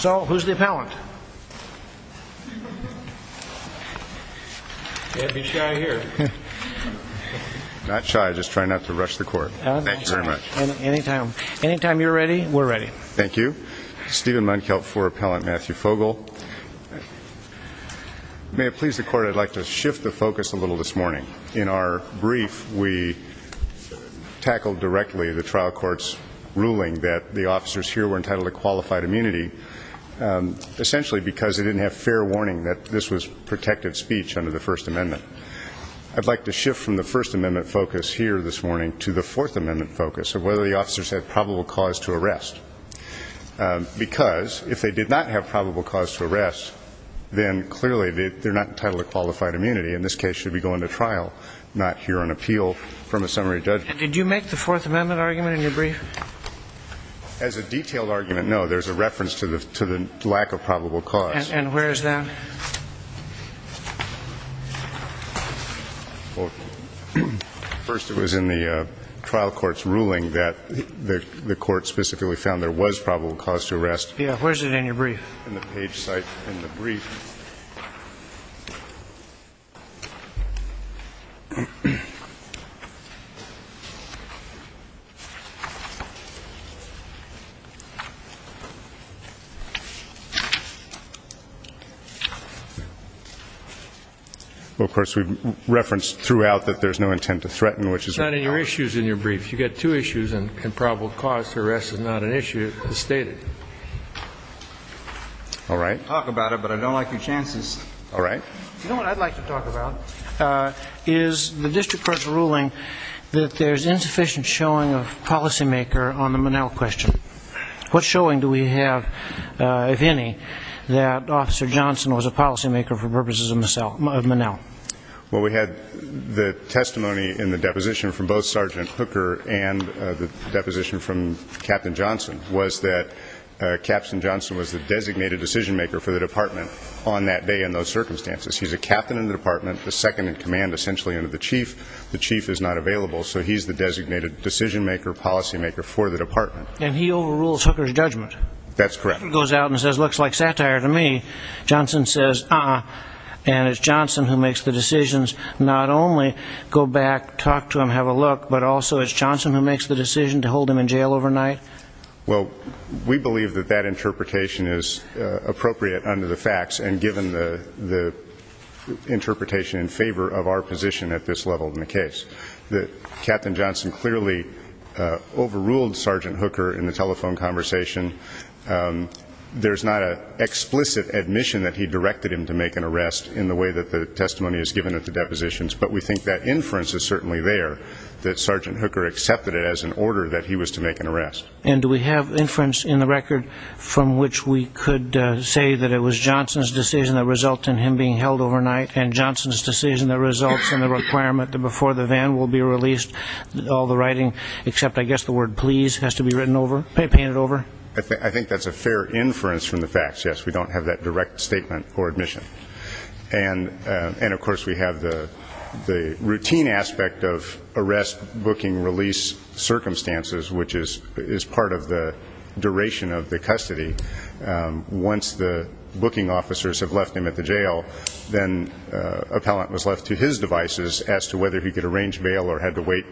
So, who's the appellant? You have to be shy here. Not shy, I just try not to rush the court. Thank you very much. Anytime you're ready, we're ready. Thank you. Stephen Munkel for Appellant Matthew Fogel. May it please the court, I'd like to shift the focus a little this morning. In our brief, we tackled directly the trial court's ruling that the officers here were entitled to qualified immunity essentially because they didn't have fair warning that this was protected speech under the First Amendment. I'd like to shift from the First Amendment focus here this morning to the Fourth Amendment focus of whether the officers had probable cause to arrest. Because, if they did not have probable cause to arrest, then clearly they're not entitled to qualified trial, not hear an appeal from a summary judge. Did you make the Fourth Amendment argument in your brief? As a detailed argument, no. There's a reference to the lack of probable cause. And where is that? First, it was in the trial court's ruling that the court specifically found there was probable cause to arrest. Yeah, where is it in your brief? In the page cite in the brief. Well, of course, we've referenced throughout that there's no intent to threaten, which is a problem. It's not in your issues in your brief. You've got two issues and probable cause to arrest is not an issue as stated. All right. You know what I'd like to talk about is the district court's ruling that there's insufficient showing of policymaker on the Monell question. What showing do we have, if any, that Officer Johnson was a policymaker for purposes of Monell? Well, we had the testimony in the deposition from both Sergeant Hooker and the deposition from Captain Johnson. Captain Johnson was the designated decision-maker for the department on that day and those circumstances. He's a captain in the department, a second-in-command essentially under the chief. The chief is not available, so he's the designated decision-maker, policymaker for the department. And he overrules Hooker's judgment. That's correct. He goes out and says, looks like satire to me. Johnson says, uh-uh. And it's Johnson who makes the decisions not only go back, talk to him, have a look, but also it's Johnson who makes the decision to hold him in jail overnight. Well, we believe that that interpretation is appropriate under the facts and given the interpretation in favor of our position at this level in the case. Captain Johnson clearly overruled Sergeant Hooker in the telephone conversation. There's not an explicit admission that he directed him to make an arrest in the way that the testimony is given at the depositions, but we think that inference is certainly there, that Sergeant Hooker accepted it as an order that he was to make an arrest. And do we have inference in the record from which we could say that it was Johnson's decision that resulted in him being held overnight and Johnson's decision that results in the requirement that before the van will be released, all the writing, except I guess the word please has to be painted over? I think that's a fair inference from the facts, yes. We don't have that direct statement or admission. And of course we have the routine aspect of arrest, booking, release circumstances, which is part of the duration of the custody. Once the booking officers have left him at the jail, then appellant was left to his devices as to whether he could arrange bail or had to wait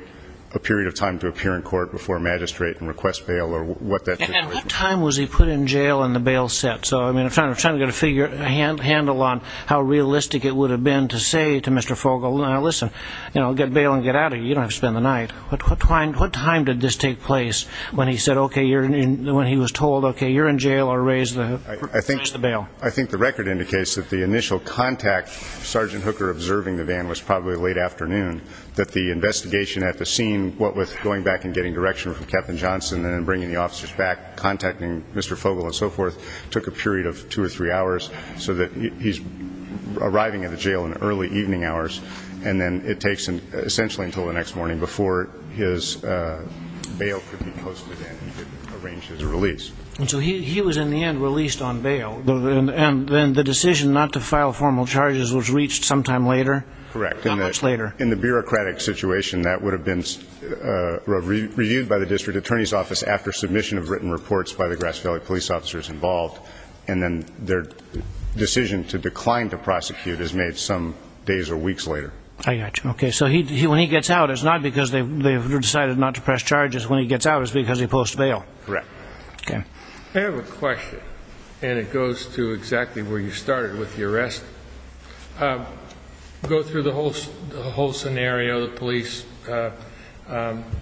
a period of time to appear in court before magistrate and request bail or what that took. And what time was he put in jail and the bail set? So I'm trying to figure a handle on how realistic it would have been to say to Mr. Fogel, now listen, get bail and get out of here. You don't have to spend the night. What time did this take place when he was told, okay, you're in jail or raise the bail? I think the record indicates that the initial contact, Sergeant Hooker observing the van was probably late afternoon, that the investigation at the scene, what with going back and getting direction from Captain Johnson and bringing the officers back, contacting Mr. Fogel and so forth, took a period of two or three hours, so that he's arriving at the jail in early evening hours and then it takes essentially until the next morning before his bail could be posted and he could arrange his release. And so he was in the end released on bail and then the decision not to file formal charges was reached sometime later? Correct. Not much later. In the bureaucratic situation, that would have been reviewed by the district attorney's office after submission of written reports by the Grass Valley police officers involved and then their decision to decline to prosecute is made some days or weeks later. Okay, so when he gets out, it's not because they've decided not to press charges, when he gets out it's because he posts bail. Correct. I have a question and it goes to exactly where you started with the arrest. Go through the whole scenario, the police,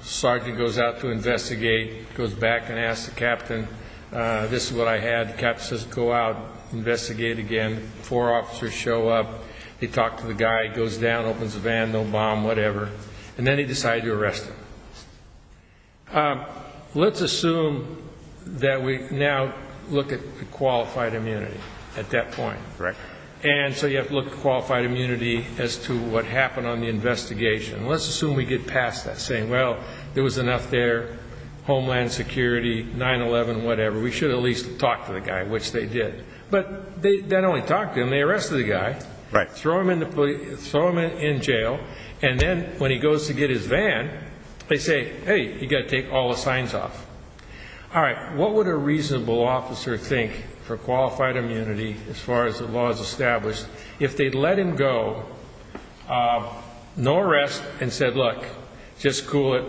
Sergeant goes out to investigate, goes back and asks the captain, this is what I had, the captain says go out, investigate again, four officers show up, they talk to the guy, he goes down, opens the van, no bomb, whatever, and then they decide to arrest him. Let's assume that we now look at qualified immunity at that point. Correct. And so you have to look at qualified immunity as to what happened on the investigation. Let's assume we get past that, saying well, there was enough there, homeland security, 9-11, whatever, we should at least talk to the guy, which they did. But they not only talked to him, they arrested the guy, throw him in jail, and then when he goes to get his van, they say hey, you've got to take all the signs off. Alright, what would a reasonable officer think for qualified immunity as far as the law is established if they let him go, no arrest, and said look, just cool it,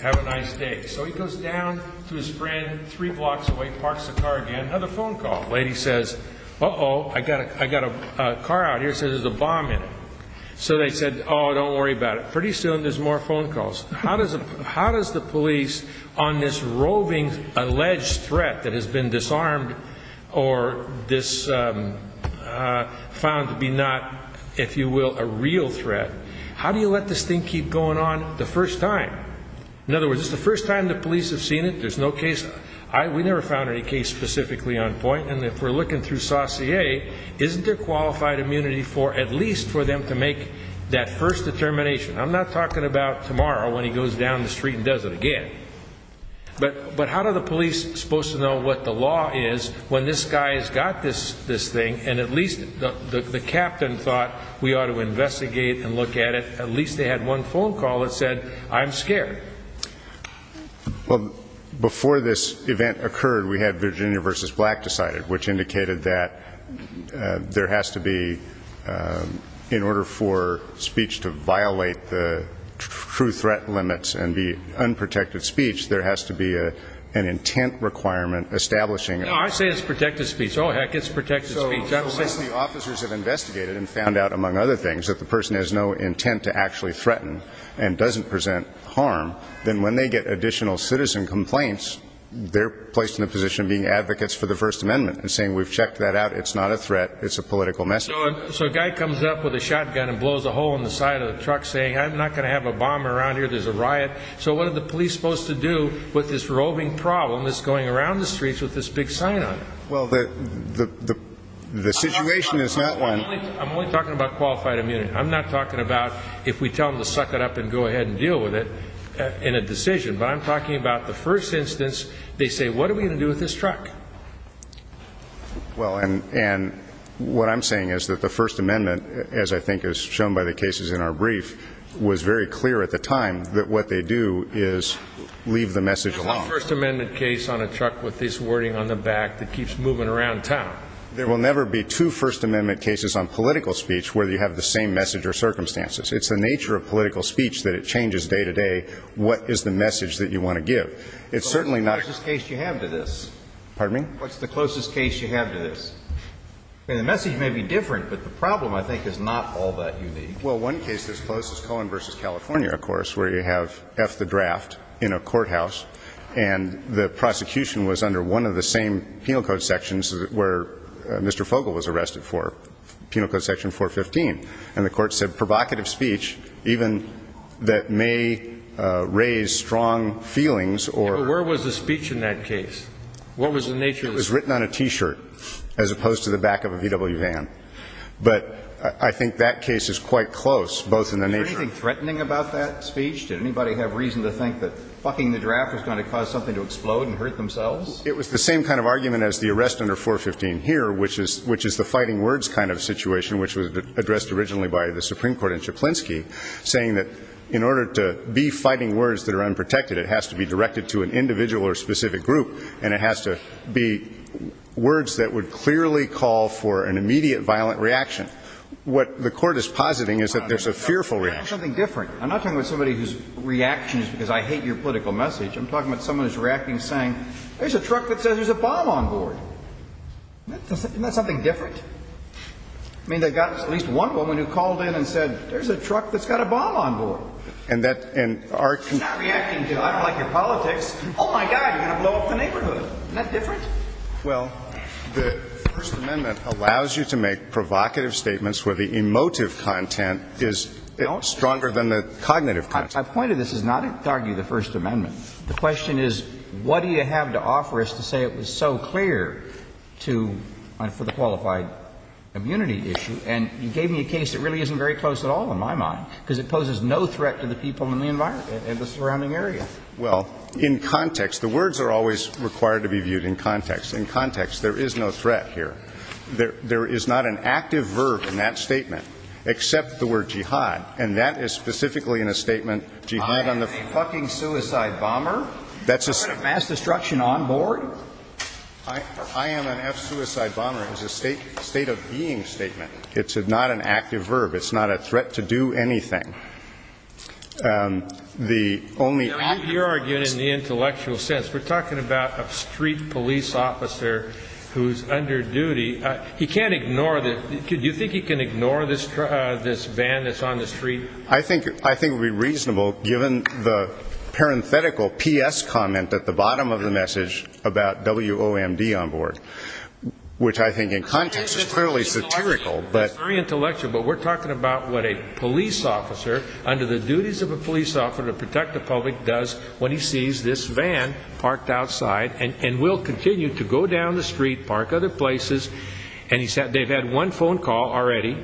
have a nice day. So he goes down to his car again, another phone call. The lady says uh-oh, I've got a car out here that says there's a bomb in it. So they said oh, don't worry about it. Pretty soon there's more phone calls. How does the police on this roving, alleged threat that has been disarmed or found to be not if you will, a real threat, how do you let this thing keep going on the first time? In other words, it's the first time the police have seen it, there's no case, we never found any case specifically on point, and if we're looking through Saussure, isn't there qualified immunity for at least for them to make that first determination? I'm not talking about tomorrow when he goes down the street and does it again. But how do the police supposed to know what the law is when this guy's got this thing and at least the captain thought we ought to investigate and look at it, at least they had one phone call that said I'm scared. Well, before this event occurred we had Virginia v. Black decided, which indicated that there has to be, in order for speech to violate the true threat limits and be unprotected speech, there has to be an intent requirement establishing No, I say it's protected speech. Oh heck, it's protected speech. So since the officers have investigated and found out, among other things, that the person has no intent to actually threaten and doesn't present harm, then when they get additional citizen complaints, they're placed in the position of being advocates for the First Amendment and saying we've checked that out, it's not a threat, it's a political message. So a guy comes up with a shotgun and blows a hole in the side of the truck saying I'm not going to have a bomb around here, there's a riot, so what are the police supposed to do with this roving problem that's going around the streets with this big sign on it? Well, the situation is not one... I'm only talking about qualified immunity. I'm not talking about if we tell them to suck it up and go ahead and deal with it in a decision, but I'm talking about the first instance they say what are we going to do with this truck? Well, and what I'm saying is that the First Amendment, as I think is shown by the cases in our brief, was very clear at the time that what they do is leave the message alone. There's no First Amendment case on a truck with this wording on the back that keeps moving around town. There will never be two First Amendment cases on political speech where you have the same message or circumstances. It's the nature of political speech that it changes day to day what is the message that you want to give. It's certainly not... But what's the closest case you have to this? Pardon me? What's the closest case you have to this? I mean, the message may be different, but the problem I think is not all that unique. Well, one case that's close is Cohen v. California, of course, where you have F the draft in a courthouse, and the prosecution was under one of the same penal code sections where Mr. Fogle was arrested for, penal code section 415. And the court said provocative speech, even that may raise strong feelings or... Yeah, but where was the speech in that case? What was the nature of it? It was written on a T-shirt, as opposed to the back of a VW van. But I think that case is quite close, both in the nature... Was there anything threatening about that speech? Did anybody have reason to think that fucking the draft was going to cause something to explode and hurt themselves? It was the same kind of argument as the arrest under 415 here, which is the fighting words kind of situation, which was addressed originally by the Supreme Court in Szyplinski, saying that in order to be fighting words that are unprotected, it has to be directed to an individual or specific group, and it has to be words that would clearly call for an immediate violent reaction. What the court is positing is that there's a fearful reaction. That's something different. I'm not talking about somebody whose reaction is because I hate your political message. I'm talking about someone who's reacting saying, there's a truck that says there's a bomb on board. Isn't that something different? I mean, they got at least one woman who called in and said, there's a truck that's got a bomb on board. And that... She's not reacting to, I don't like your politics. Oh my God, you're going to blow up the neighborhood. Isn't that different? Well, the First Amendment allows you to make provocative statements where the emotive content is stronger than the cognitive content. My point of this is not to argue the First Amendment. The question is, what do you have to offer us to say it was so clear to, for the qualified immunity issue? And you gave me a case that really isn't very close at all in my mind, because it poses no threat to the people in the environment, in the surrounding area. Well, in context, the words are always required to be viewed in context. In context, there is no threat here. There is not an active verb in that statement except the word jihad, and that is specifically in a statement, jihad on the... F-bomber? That's a... Mass destruction on board? I am an F-suicide bomber. It's a state of being statement. It's not an active verb. It's not a threat to do anything. The only... You're arguing in the intellectual sense. We're talking about a street police officer who's under duty. He can't ignore the... Do you think he can ignore this van that's on the street? I think it would be reasonable, given the parenthetical P.S. comment at the bottom of the message about W.O.M.D. on board, which I think in context is clearly satirical, but... It's very intellectual, but we're talking about what a police officer, under the duties of a police officer to protect the public, does when he sees this van parked outside and will continue to go down the street, park other places, and they've had one phone call already,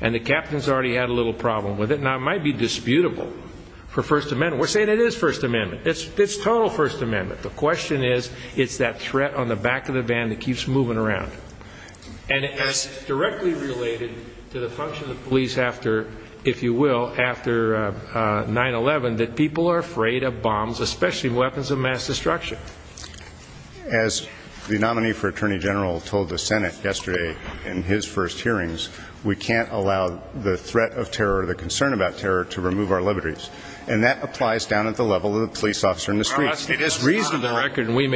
and the captain's already had a little problem with it. Now, it might be disputable for First Amendment. We're saying it is First Amendment. It's total First Amendment. The question is, it's that threat on the back of the van that keeps moving around. And it's directly related to the function of the police after, if you will, after 9-11, that people are afraid of bombs, especially weapons of mass destruction. As the nominee for Attorney General told the Senate yesterday in his first hearings, we can't allow the threat of terror or the concern about terror to remove our liberties. And that applies down at the level of the police officer in the street. It is reasonable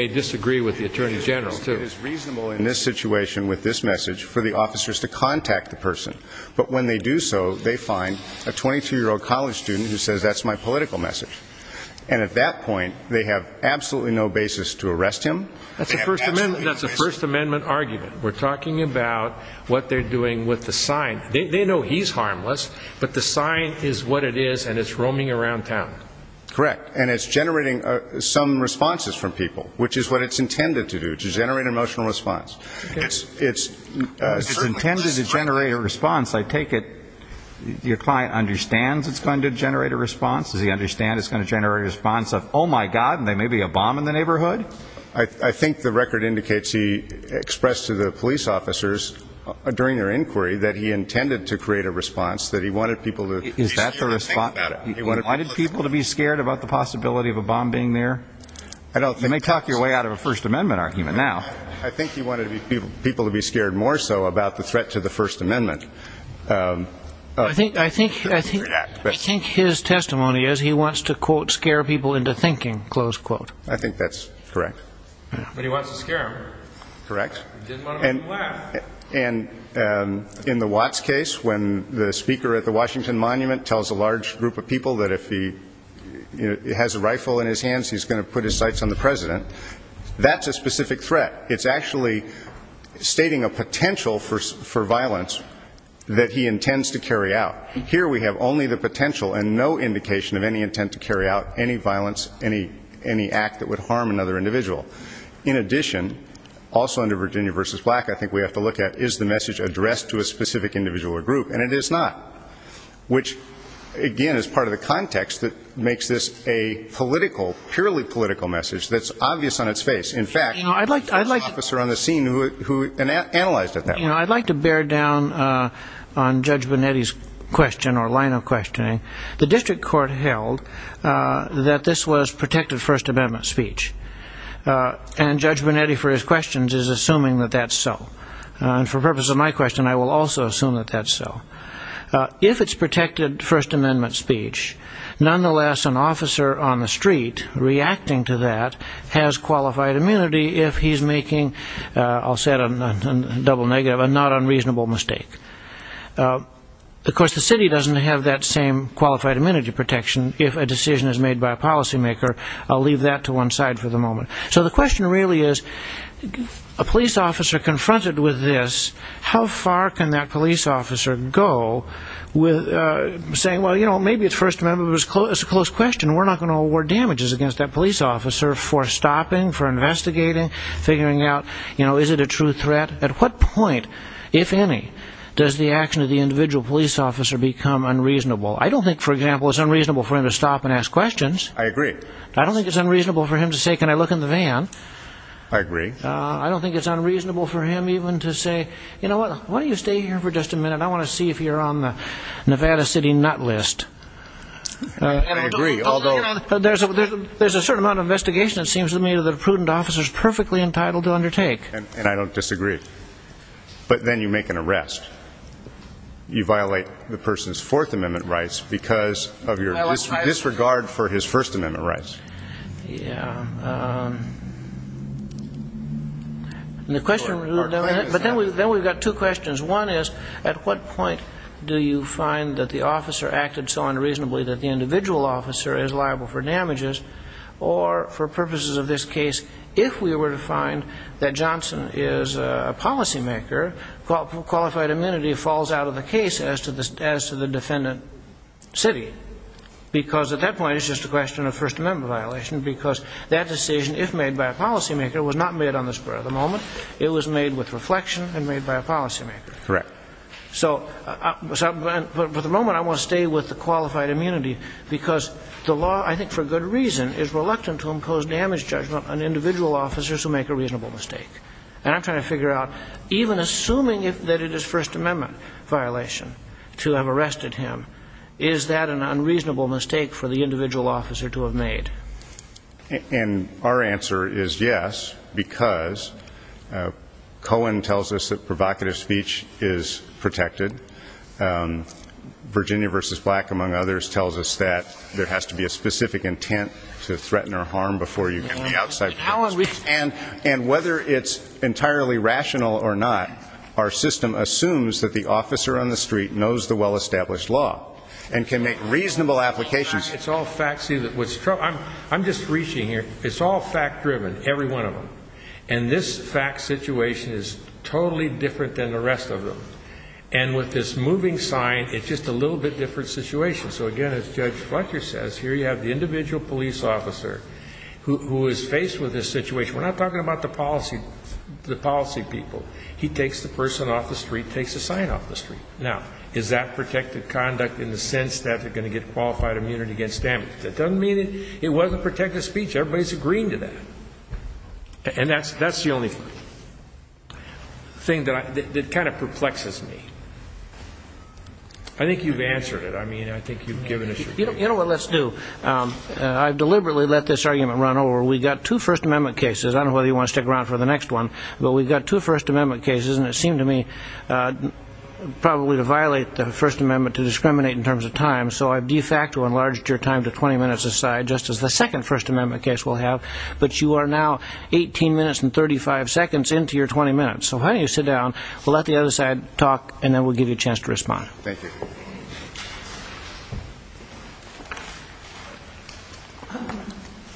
in this situation with this message for the officers to contact the person. But when they do so, they find a 22-year-old college student who says, that's my political message. And at that point, they have absolutely no basis to arrest him. That's a First Amendment argument. We're talking about what they're doing with the sign. They know he's harmless, but the sign is what it is, and it's roaming around town. Correct. And it's generating some responses from people, which is what it's intended to do, to generate an emotional response. It's intended to generate a response. I take it your client understands it's going to generate a response? Does he understand it's going to generate a response of, oh, my God, and there may be a bomb in the neighborhood? I think the record indicates he expressed to the police officers during their inquiry that he intended to create a response, that he wanted people to be scared. Is that the response? He wanted people to be scared about the possibility of a bomb being there? You may talk your way out of a First Amendment argument now. I think he wanted people to be scared more so about the threat to the First Amendment. I think his testimony is he wants to, quote, scare people into thinking, close quote. I think that's correct. But he wants to scare them. Correct. He didn't want to make them laugh. And in the Watts case, when the speaker at the Washington Monument tells a large group of people that if he has a rifle in his hands, he's going to put his sights on the president, that's a specific threat. It's actually stating a potential for violence that he intends to carry out. Here we have only the potential and no indication of any intent to carry out any violence, any act that would harm another individual. In addition, also under Virginia v. Black, I think we have to look at, is the message addressed to a specific individual or group? And it is not, which, again, is part of the context that makes this a political, purely political message that's obvious on its face. In fact, the first officer on the scene who analyzed it that way. You know, I'd like to bear down on Judge Bonetti's question or line of questioning. The district court held that this was protected First Amendment speech. And Judge Bonetti, for his questions, is assuming that that's so. And for the purpose of my question, I will also assume that that's so. If it's protected First Amendment speech, nonetheless, an officer on the street reacting to that has qualified immunity if he's making, I'll say it on a double negative, a not unreasonable mistake. Of course, the city doesn't have that same qualified immunity protection if a decision is made by a policymaker. I'll leave that to one side for the moment. So the question really is, a police officer confronted with this, how far can that police officer go with saying, well, you know, maybe it's First Amendment, it's a close question, we're not going to award damages against that police officer for stopping, for investigating, figuring out, you know, is it a true threat? At what point, if any, does the action of the individual police officer become unreasonable? I don't think, for example, it's unreasonable for him to stop and ask questions. I agree. I don't think it's unreasonable for him to say, can I look in the van? I agree. I don't think it's unreasonable for him even to say, you know what, why don't you stay here for just a minute? I want to see if you're on the Nevada City nut list. I agree. There's a certain amount of investigation, it seems to me, that a prudent officer is perfectly entitled to undertake. And I don't disagree. But then you make an arrest. You violate the person's Fourth Amendment rights because of your disregard for his First Amendment rights. Yeah. But then we've got two questions. One is, at what point do you find that the officer acted so unreasonably that the individual officer is liable for damages? Or, for purposes of this case, if we were to find that Johnson is a policymaker, qualified amenity falls out of the case as to the defendant's city. Because at that point, it's just a question of First Amendment violation because that decision, if made by a policymaker, was not made on the square of the moment. It was made with reflection and made by a policymaker. Correct. So, for the moment, I want to stay with the qualified amenity because the law, I think for good reason, is reluctant to impose damage judgment on individual officers who make a reasonable mistake. And I'm trying to figure out, even assuming that it is First Amendment violation to have arrested him, is that an unreasonable mistake for the individual officer to have made? And our answer is yes, because Cohen tells us that provocative speech is protected. Virginia v. Black, among others, tells us that there has to be a specific intent to threaten or harm before you can lay outside prosecution. And whether it's entirely rational or not, our system assumes that the officer on the street knows the well-established law and can make reasonable applications. I'm just reaching here. It's all fact-driven, every one of them. And this fact situation is totally different than the rest of them. And with this moving sign, it's just a little bit different situation. So, again, as Judge Fletcher says, here you have the individual police officer who is faced with this situation. We're not talking about the policy people. He takes the person off the street, takes the sign off the street. Now, is that protected conduct in the sense that they're going to get qualified immunity against damage? That doesn't mean it wasn't protected speech. Everybody's agreeing to that. And that's the only thing that kind of perplexes me. I think you've answered it. I mean, I think you've given us your view. You know what? Let's do. I've deliberately let this argument run over. We've got two First Amendment cases. I don't know whether you want to stick around for the next one. But we've got two First Amendment cases. And it seemed to me probably to violate the First Amendment to discriminate in terms of time. So I de facto enlarged your time to 20 minutes a side, just as the second First Amendment case will have. But you are now 18 minutes and 35 seconds into your 20 minutes. So why don't you sit down. We'll let the other side talk, and then we'll give you a chance to respond. Thank you.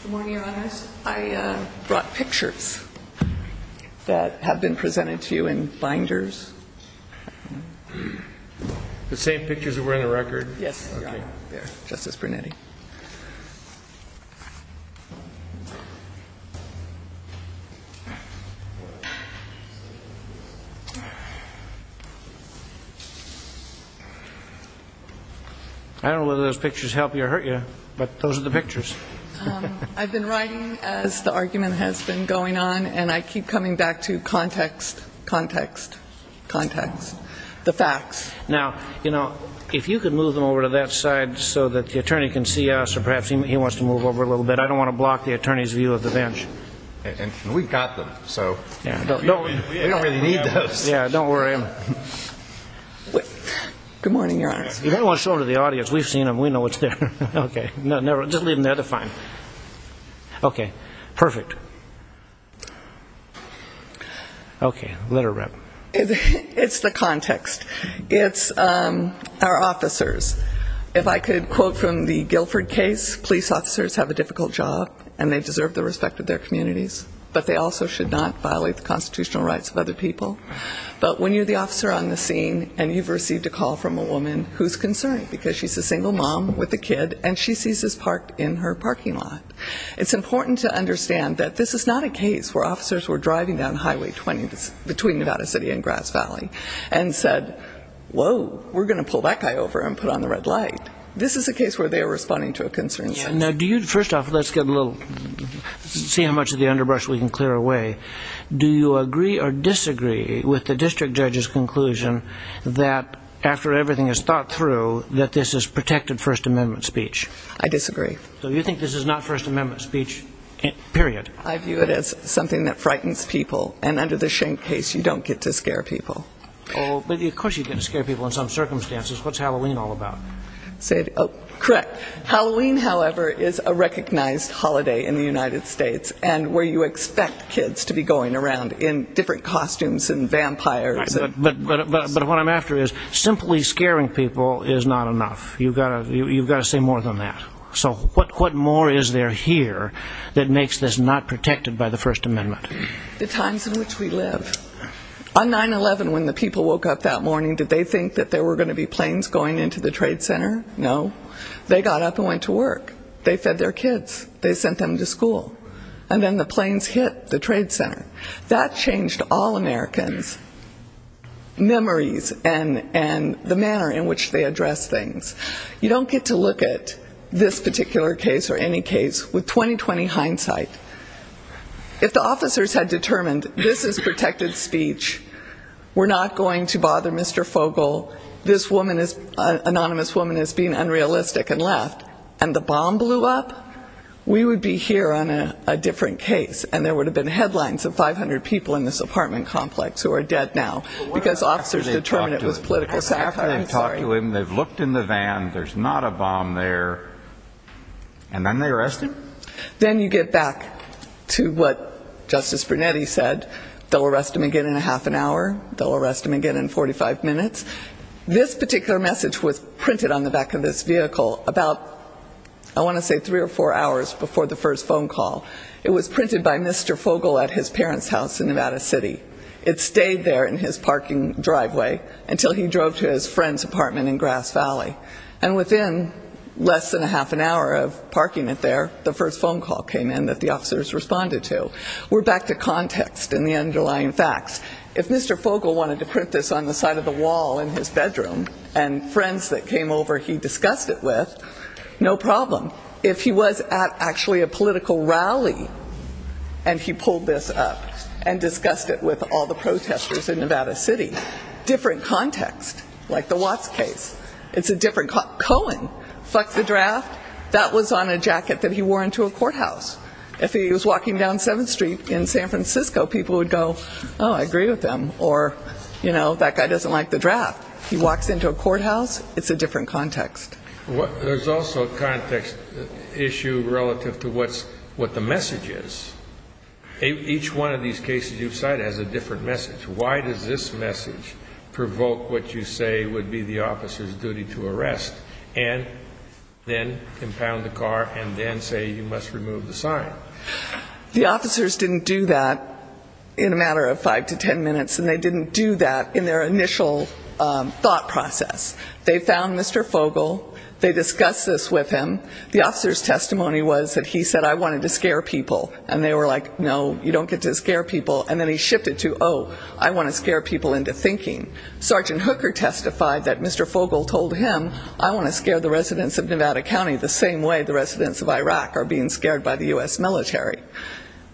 Good morning, Your Honors. I brought pictures that have been presented to you in binders. The same pictures that were in the record? Yes, Your Honor. There, Justice Brunetti. I don't know whether those pictures help you or hurt you, but those are the pictures. I've been writing as the argument has been going on, and I keep coming back to context, context, context, the facts. Now, you know, if you could move them over to that side so that the attorney can see us, or perhaps he wants to move over a little bit. I don't want to block the attorney's view of the bench. And we've got them, so we don't really need those. Yeah, don't worry. Good morning, Your Honors. If anyone wants to show them to the audience, we've seen them. We know what's there. Okay, just leave them there. They're fine. Okay, perfect. Okay, let her rep. It's the context. It's our officers. If I could quote from the Guilford case, police officers have a difficult job, and they deserve the respect of their communities, but they also should not violate the constitutional rights of other people. But when you're the officer on the scene and you've received a call from a woman who's concerned because she's a single mom with a kid and she sees this parked in her parking lot, it's important to understand that this is not a case where officers were driving down Highway 20 between Nevada City and Grass Valley and said, whoa, we're going to pull that guy over and put on the red light. This is a case where they are responding to a concern. First off, let's get a little see how much of the underbrush we can clear away. Do you agree or disagree with the district judge's conclusion that after everything is thought through, that this is protected First Amendment speech? I disagree. So you think this is not First Amendment speech, period? I view it as something that frightens people, and under the Schenk case you don't get to scare people. Oh, but of course you get to scare people in some circumstances. What's Halloween all about? Correct. Halloween, however, is a recognized holiday in the United States and where you expect kids to be going around in different costumes and vampires. But what I'm after is simply scaring people is not enough. You've got to say more than that. So what more is there here that makes this not protected by the First Amendment? The times in which we live. On 9-11, when the people woke up that morning, did they think that there were going to be planes going into the Trade Center? No. They got up and went to work. They fed their kids. They sent them to school. And then the planes hit the Trade Center. That changed all Americans' memories and the manner in which they address things. You don't get to look at this particular case or any case with 20-20 hindsight. If the officers had determined this is protected speech, we're not going to bother Mr. Fogel, this anonymous woman is being unrealistic and left, and the bomb blew up, we would be here on a different case, and there would have been headlines of 500 people in this apartment complex who are dead now because officers determined it was political satire. After they've talked to him, they've looked in the van, there's not a bomb there, and then they arrest him? Then you get back to what Justice Brunetti said. They'll arrest him again in a half an hour. They'll arrest him again in 45 minutes. This particular message was printed on the back of this vehicle about, I want to say, three or four hours before the first phone call. It was printed by Mr. Fogel at his parents' house in Nevada City. It stayed there in his parking driveway until he drove to his friend's apartment in Grass Valley. And within less than a half an hour of parking it there, the first phone call came in that the officers responded to. We're back to context and the underlying facts. If Mr. Fogel wanted to print this on the side of the wall in his bedroom and friends that came over he discussed it with, no problem. If he was at actually a political rally and he pulled this up and discussed it with all the protesters in Nevada City, different context, like the Watts case. It's a different context. Cohen fucked the draft. That was on a jacket that he wore into a courthouse. If he was walking down 7th Street in San Francisco, people would go, oh, I agree with him, or, you know, that guy doesn't like the draft. He walks into a courthouse. It's a different context. There's also a context issue relative to what the message is. Each one of these cases you've cited has a different message. Why does this message provoke what you say would be the officer's duty to arrest and then impound the car and then say you must remove the sign? The officers didn't do that in a matter of 5 to 10 minutes, and they didn't do that in their initial thought process. They found Mr. Fogle. They discussed this with him. The officer's testimony was that he said, I wanted to scare people. And they were like, no, you don't get to scare people. And then he shifted to, oh, I want to scare people into thinking. Sergeant Hooker testified that Mr. Fogle told him, I want to scare the residents of Nevada County the same way the residents of Iraq are being scared by the U.S. military.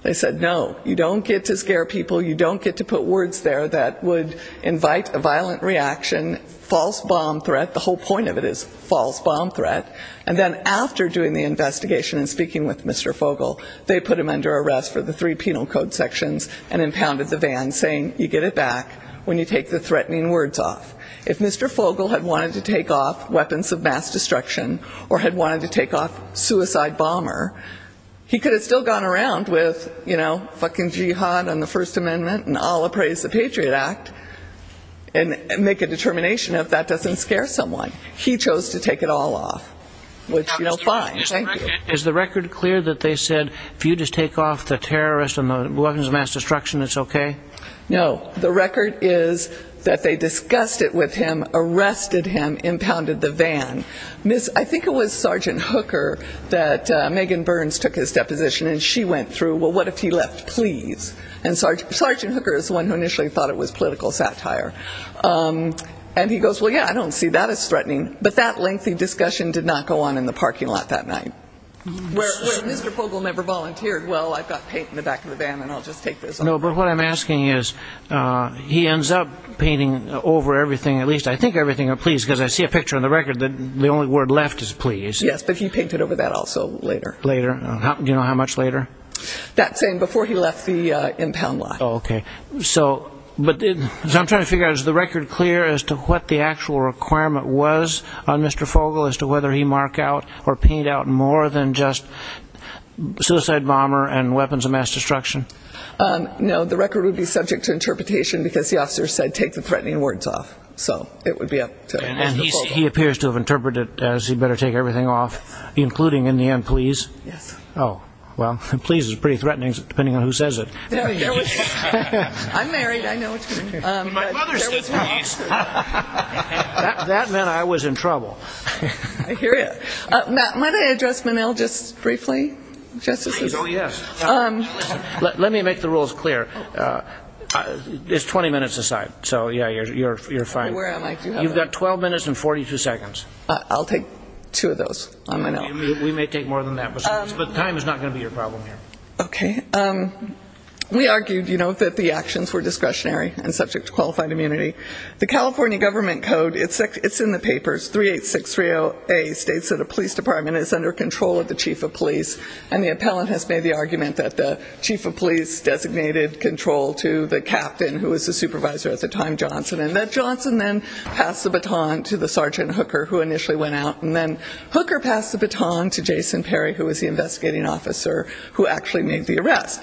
They said, no, you don't get to scare people. You don't get to put words there that would invite a violent reaction, false bomb threat. The whole point of it is false bomb threat. And then after doing the investigation and speaking with Mr. Fogle, they put him under arrest for the three penal code sections and impounded the van saying you get it back when you take the threatening words off. If Mr. Fogle had wanted to take off weapons of mass destruction or had wanted to take off suicide bomber, he could have still gone around with, you know, fucking jihad on the First Amendment and I'll appraise the Patriot Act and make a determination if that doesn't scare someone. He chose to take it all off, which, you know, fine. Thank you. Is the record clear that they said if you just take off the terrorist and the weapons of mass destruction, it's okay? No. The record is that they discussed it with him, arrested him, impounded the van. I think it was Sergeant Hooker that Megan Burns took his deposition and she went through, well, what if he left, please. And Sergeant Hooker is the one who initially thought it was political satire. And he goes, well, yeah, I don't see that as threatening. But that lengthy discussion did not go on in the parking lot that night. Where Mr. Fogle never volunteered, well, I've got paint in the back of the van and I'll just take this off. No, but what I'm asking is he ends up painting over everything, at least, I think everything, please, because I see a picture on the record that the only word left is please. Yes, but he painted over that also later. Later. Do you know how much later? That same, before he left the impound lot. Okay. So I'm trying to figure out, is the record clear as to what the actual requirement was on Mr. Fogle as to whether he marked out or painted out more than just No, the record would be subject to interpretation because the officer said take the threatening words off. So it would be up to him. And he appears to have interpreted it as he better take everything off, including, in the end, please. Yes. Oh, well, please is pretty threatening, depending on who says it. I'm married, I know what you mean. My mother says please. That meant I was in trouble. I hear you. Matt, might I address Menil just briefly? Oh, yes. Let me make the rules clear. It's 20 minutes aside, so, yeah, you're fine. Where am I? You've got 12 minutes and 42 seconds. I'll take two of those on my own. We may take more than that, but time is not going to be your problem here. Okay. We argued that the actions were discretionary and subject to qualified immunity. The California government code, it's in the papers, 38630A, states that a police department is under control of the chief of police, and the appellant has made the argument that the chief of police designated control to the captain, who was the supervisor at the time, Johnson, and that Johnson then passed the baton to the Sergeant Hooker, who initially went out, and then Hooker passed the baton to Jason Perry, who was the investigating officer who actually made the arrest.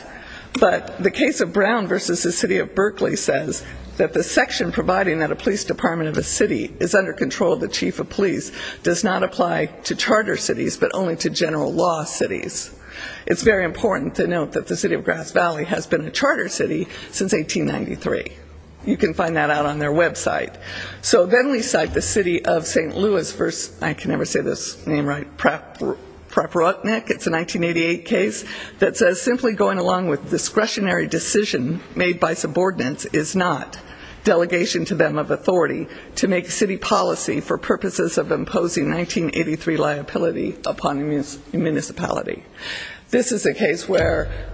But the case of Brown versus the city of Berkeley says that the section providing that a police department of a city is under control of the chief of police does not apply to charter cities, but only to general law cities. It's very important to note that the city of Grass Valley has been a charter city since 1893. You can find that out on their website. So then we cite the city of St. Louis versus, I can never say this name right, Pratt-Rutnick, it's a 1988 case, that says simply going along with discretionary decision made by subordinates is not delegation to them of authority to make city policy for purposes of upon municipality. This is a case where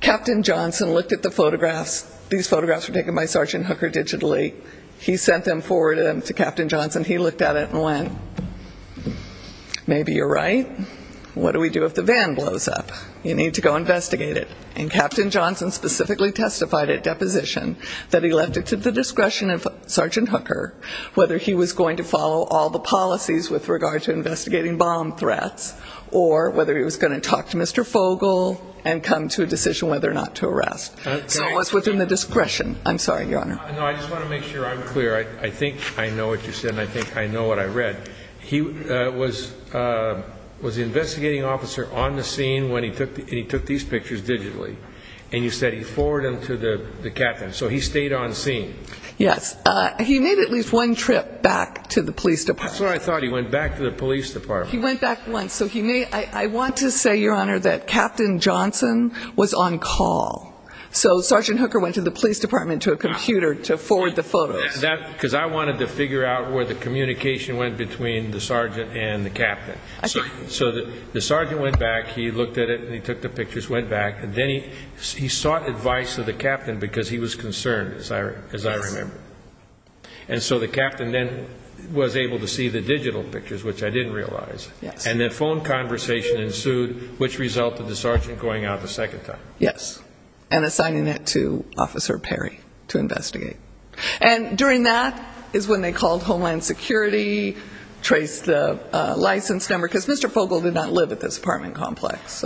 Captain Johnson looked at the photographs. These photographs were taken by Sergeant Hooker digitally. He sent them forward to Captain Johnson. He looked at it and went, maybe you're right. What do we do if the van blows up? You need to go investigate it. And Captain Johnson specifically testified at deposition that he left it to the discretion of Sergeant Hooker whether he was going to follow all the policies with regard to investigating bomb threats or whether he was going to talk to Mr. Fogel and come to a decision whether or not to arrest. So it was within the discretion. I'm sorry, Your Honor. No, I just want to make sure I'm clear. I think I know what you said and I think I know what I read. He was the investigating officer on the scene when he took these pictures digitally. And you said he forwarded them to the captain. So he stayed on scene. Yes. He made at least one trip back to the police department. That's what I thought. He went back to the police department. He went back once. I want to say, Your Honor, that Captain Johnson was on call. So Sergeant Hooker went to the police department to a computer to forward the photos. Because I wanted to figure out where the communication went between the sergeant and the captain. So the sergeant went back, he looked at it, and he took the pictures, went back, and then he sought advice of the captain because he was concerned, as I remember. Yes. And so the captain then was able to see the digital pictures, which I didn't realize. Yes. And the phone conversation ensued, which resulted in the sergeant going out a second time. Yes. And assigning it to Officer Perry to investigate. And during that is when they called Homeland Security, traced the license number, because Mr. Fogle did not live at this apartment complex.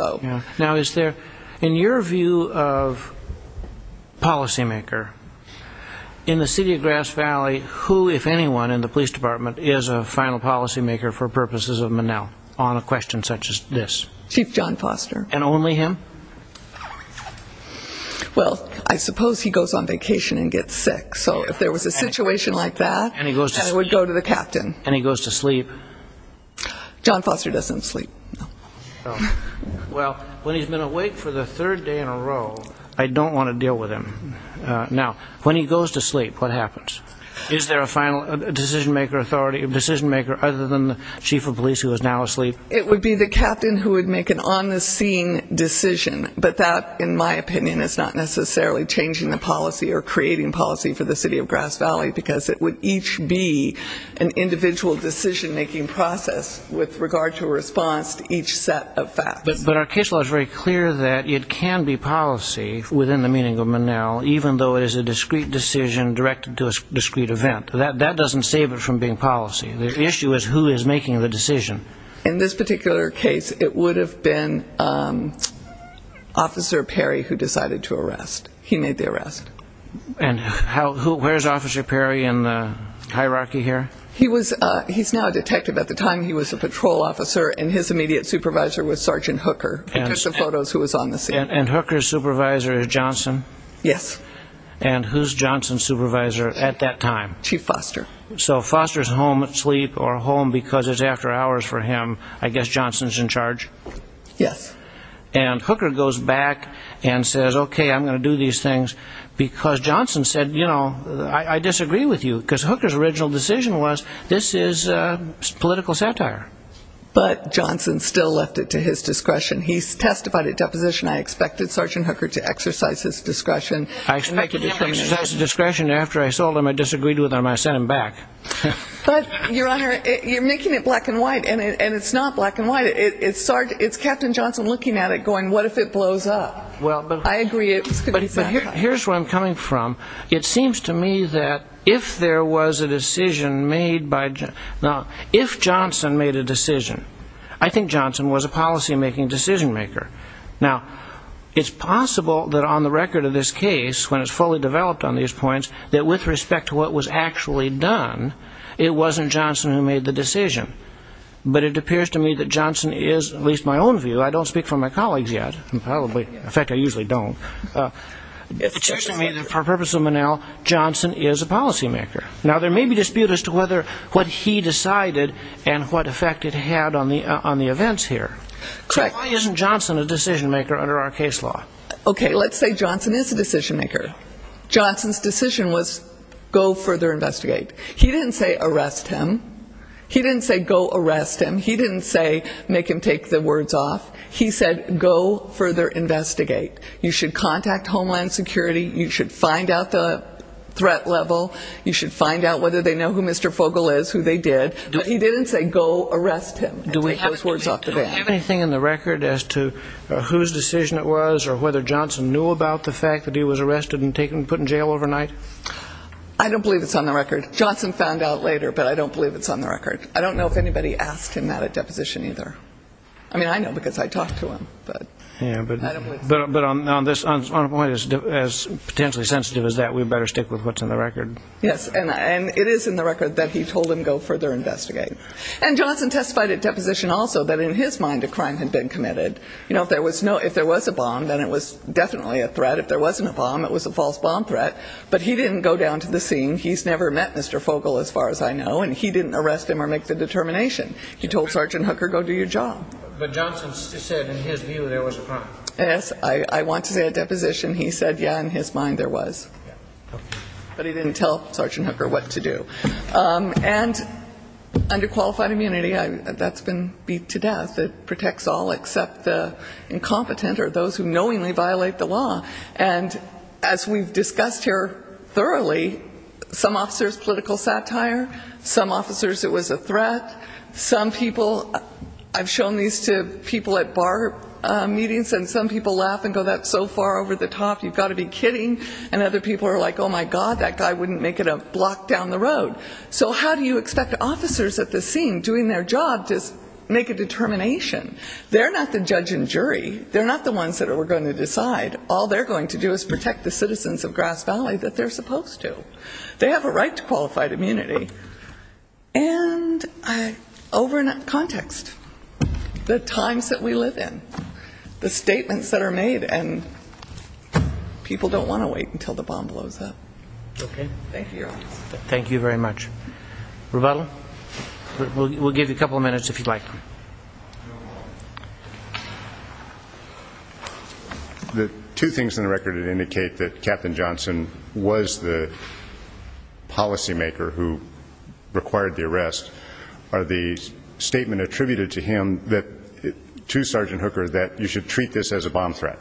Now, is there, in your view of policymaker, in the city of Grass Valley, who, if anyone in the police department, is a final policymaker for purposes of Monell on a question such as this? Chief John Foster. And only him? Well, I suppose he goes on vacation and gets sick. So if there was a situation like that, I would go to the captain. And he goes to sleep? John Foster doesn't sleep. Well, when he's been awake for the third day in a row, I don't want to deal with him. Now, when he goes to sleep, what happens? Is there a final decision-maker other than the chief of police who is now asleep? It would be the captain who would make an on-the-scene decision. But that, in my opinion, is not necessarily changing the policy or creating policy for the city of Grass Valley, because it would each be an individual decision-making process with regard to a response to each set of facts. But our case law is very clear that it can be policy within the meaning of Monell, even though it is a discrete decision directed to a discrete event. That doesn't save it from being policy. The issue is who is making the decision. In this particular case, it would have been Officer Perry who decided to arrest. He made the arrest. Where is Officer Perry in the hierarchy here? He's now a detective. At the time, he was a patrol officer, and his immediate supervisor was Sergeant Hooker, who took the photos, who was on the scene. And Hooker's supervisor is Johnson? Yes. And who's Johnson's supervisor at that time? Chief Foster. So Foster's home asleep or home because it's after hours for him. I guess Johnson's in charge? Yes. And Hooker goes back and says, okay, I'm going to do these things, because Johnson said, you know, I disagree with you, because Hooker's original decision was this is political satire. But Johnson still left it to his discretion. He testified at deposition, I expected Sergeant Hooker to exercise his discretion. I expected him to exercise his discretion. After I saw him, I disagreed with him. I sent him back. But, Your Honor, you're making it black and white, and it's not black and white. It's Captain Johnson looking at it going, what if it blows up? I agree. Here's where I'm coming from. It seems to me that if there was a decision made by Johnson. Now, if Johnson made a decision, I think Johnson was a policymaking decision maker. Now, it's possible that on the record of this case, when it's fully developed on these points, that with respect to what was actually done, it wasn't Johnson who made the decision. But it appears to me that Johnson is, at least in my own view, I don't speak for my colleagues yet, in fact, I usually don't, it appears to me that for the purpose of Monell, Johnson is a policymaker. Now, there may be dispute as to what he decided and what effect it had on the events here. So why isn't Johnson a decision maker under our case law? Okay, let's say Johnson is a decision maker. Johnson's decision was go further investigate. He didn't say arrest him. He didn't say go arrest him. He didn't say make him take the words off. He said go further investigate. You should contact Homeland Security. You should find out the threat level. You should find out whether they know who Mr. Fogel is, who they did. But he didn't say go arrest him. Do we have anything in the record as to whose decision it was or whether Johnson knew about the fact that he was arrested and put in jail overnight? I don't believe it's on the record. Johnson found out later, but I don't believe it's on the record. I don't know if anybody asked him that at deposition either. I mean, I know because I talked to him. But on a point as potentially sensitive as that, we better stick with what's in the record. Yes, and it is in the record that he told him go further investigate. And Johnson testified at deposition also that in his mind a crime had been committed. If there was a bomb, then it was definitely a threat. If there wasn't a bomb, it was a false bomb threat. But he didn't go down to the scene. He's never met Mr. Fogel as far as I know. And he didn't arrest him or make the determination. He told Sergeant Hooker go do your job. But Johnson said in his view there was a crime. Yes. I want to say at deposition he said, yeah, in his mind there was. But he didn't tell Sergeant Hooker what to do. And under qualified immunity, that's been beat to death. It protects all except the incompetent or those who knowingly violate the law. And as we've discussed here thoroughly, some officers, political satire. Some officers it was a threat. Some people, I've shown these to people at bar meetings, and some people laugh and go that's so far over the top, you've got to be kidding. And other people are like, oh, my God, that guy wouldn't make it a block down the road. So how do you expect officers at the scene doing their job to make a determination? They're not the judge and jury. They're not the ones that are going to decide. All they're going to do is protect the citizens of Grass Valley that they're supposed to. They have a right to qualified immunity. And over in context, the times that we live in, the statements that are made, and people don't want to wait until the bomb blows up. Thank you. Thank you very much. Rebuttal? We'll give you a couple of minutes if you'd like. The two things in the record that indicate that Captain Johnson was the policymaker who required the arrest are the statement attributed to him, to Sergeant Hooker, that you should treat this as a bomb threat.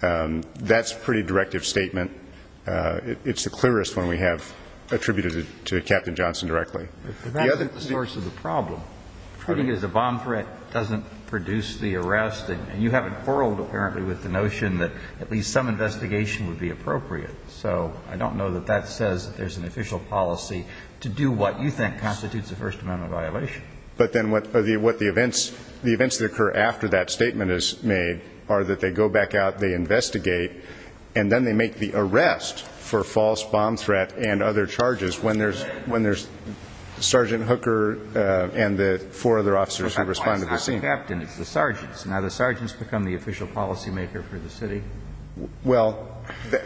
That's a pretty directive statement. It's the clearest one we have attributed to Captain Johnson directly. But that's not the source of the problem. Treating it as a bomb threat doesn't produce the arrest. And you haven't quarreled apparently with the notion that at least some investigation would be appropriate. So I don't know that that says that there's an official policy to do what you think constitutes a First Amendment violation. But then what the events that occur after that statement is made are that they go back out, they investigate, and then they make the arrest for false bomb threat and other charges when there's Sergeant Hooker and the four other officers who respond to the scene. It's not the captain. It's the sergeants. Now the sergeants become the official policymaker for the city. Well,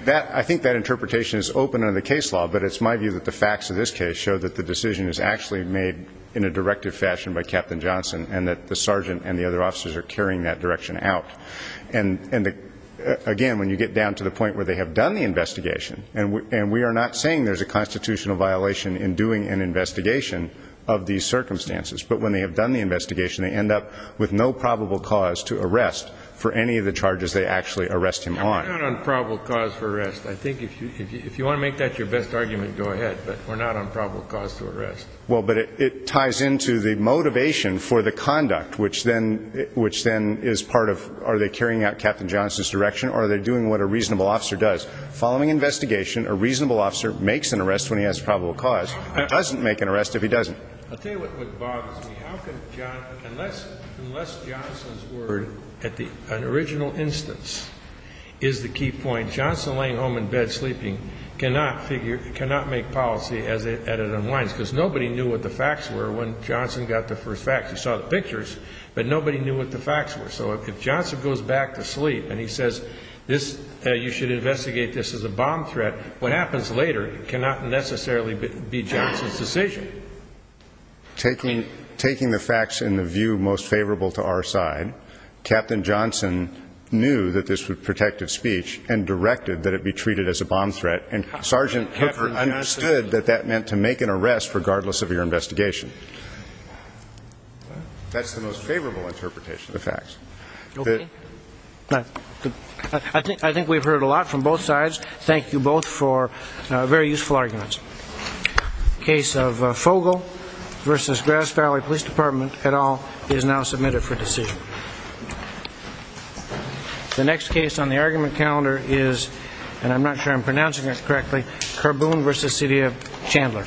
I think that interpretation is open under the case law, but it's my view that the facts of this case show that the decision is actually made in a directive fashion by Captain Johnson and that the sergeant and the other officers are carrying that direction out. And, again, when you get down to the point where they have done the investigation, and we are not saying there's a constitutional violation in doing an investigation of these circumstances, but when they have done the investigation, they end up with no probable cause to arrest for any of the charges they actually arrest him on. We're not on probable cause for arrest. I think if you want to make that your best argument, go ahead. But we're not on probable cause to arrest. Well, but it ties into the motivation for the conduct, which then is part of are they carrying out Captain Johnson's direction or are they doing what a reasonable officer does? Following investigation, a reasonable officer makes an arrest when he has probable cause and doesn't make an arrest if he doesn't. I'll tell you what bothers me. Unless Johnson's word at an original instance is the key point, Johnson laying home in bed sleeping cannot make policy as it unwinds because nobody knew what the facts were when Johnson got the first facts. You saw the pictures, but nobody knew what the facts were. So if Johnson goes back to sleep and he says you should investigate this as a bomb threat, what happens later cannot necessarily be Johnson's decision. Taking the facts in the view most favorable to our side, Captain Johnson knew that this was protective speech and directed that it be treated as a bomb threat. And Sergeant Hooker understood that that meant to make an arrest regardless of your investigation. That's the most favorable interpretation of the facts. I think we've heard a lot from both sides. Thank you both for very useful arguments. Case of Fogle v. Grass Valley Police Department et al. is now submitted for decision. The next case on the argument calendar is, and I'm not sure I'm pronouncing this correctly, Carboon v. City of Chandler.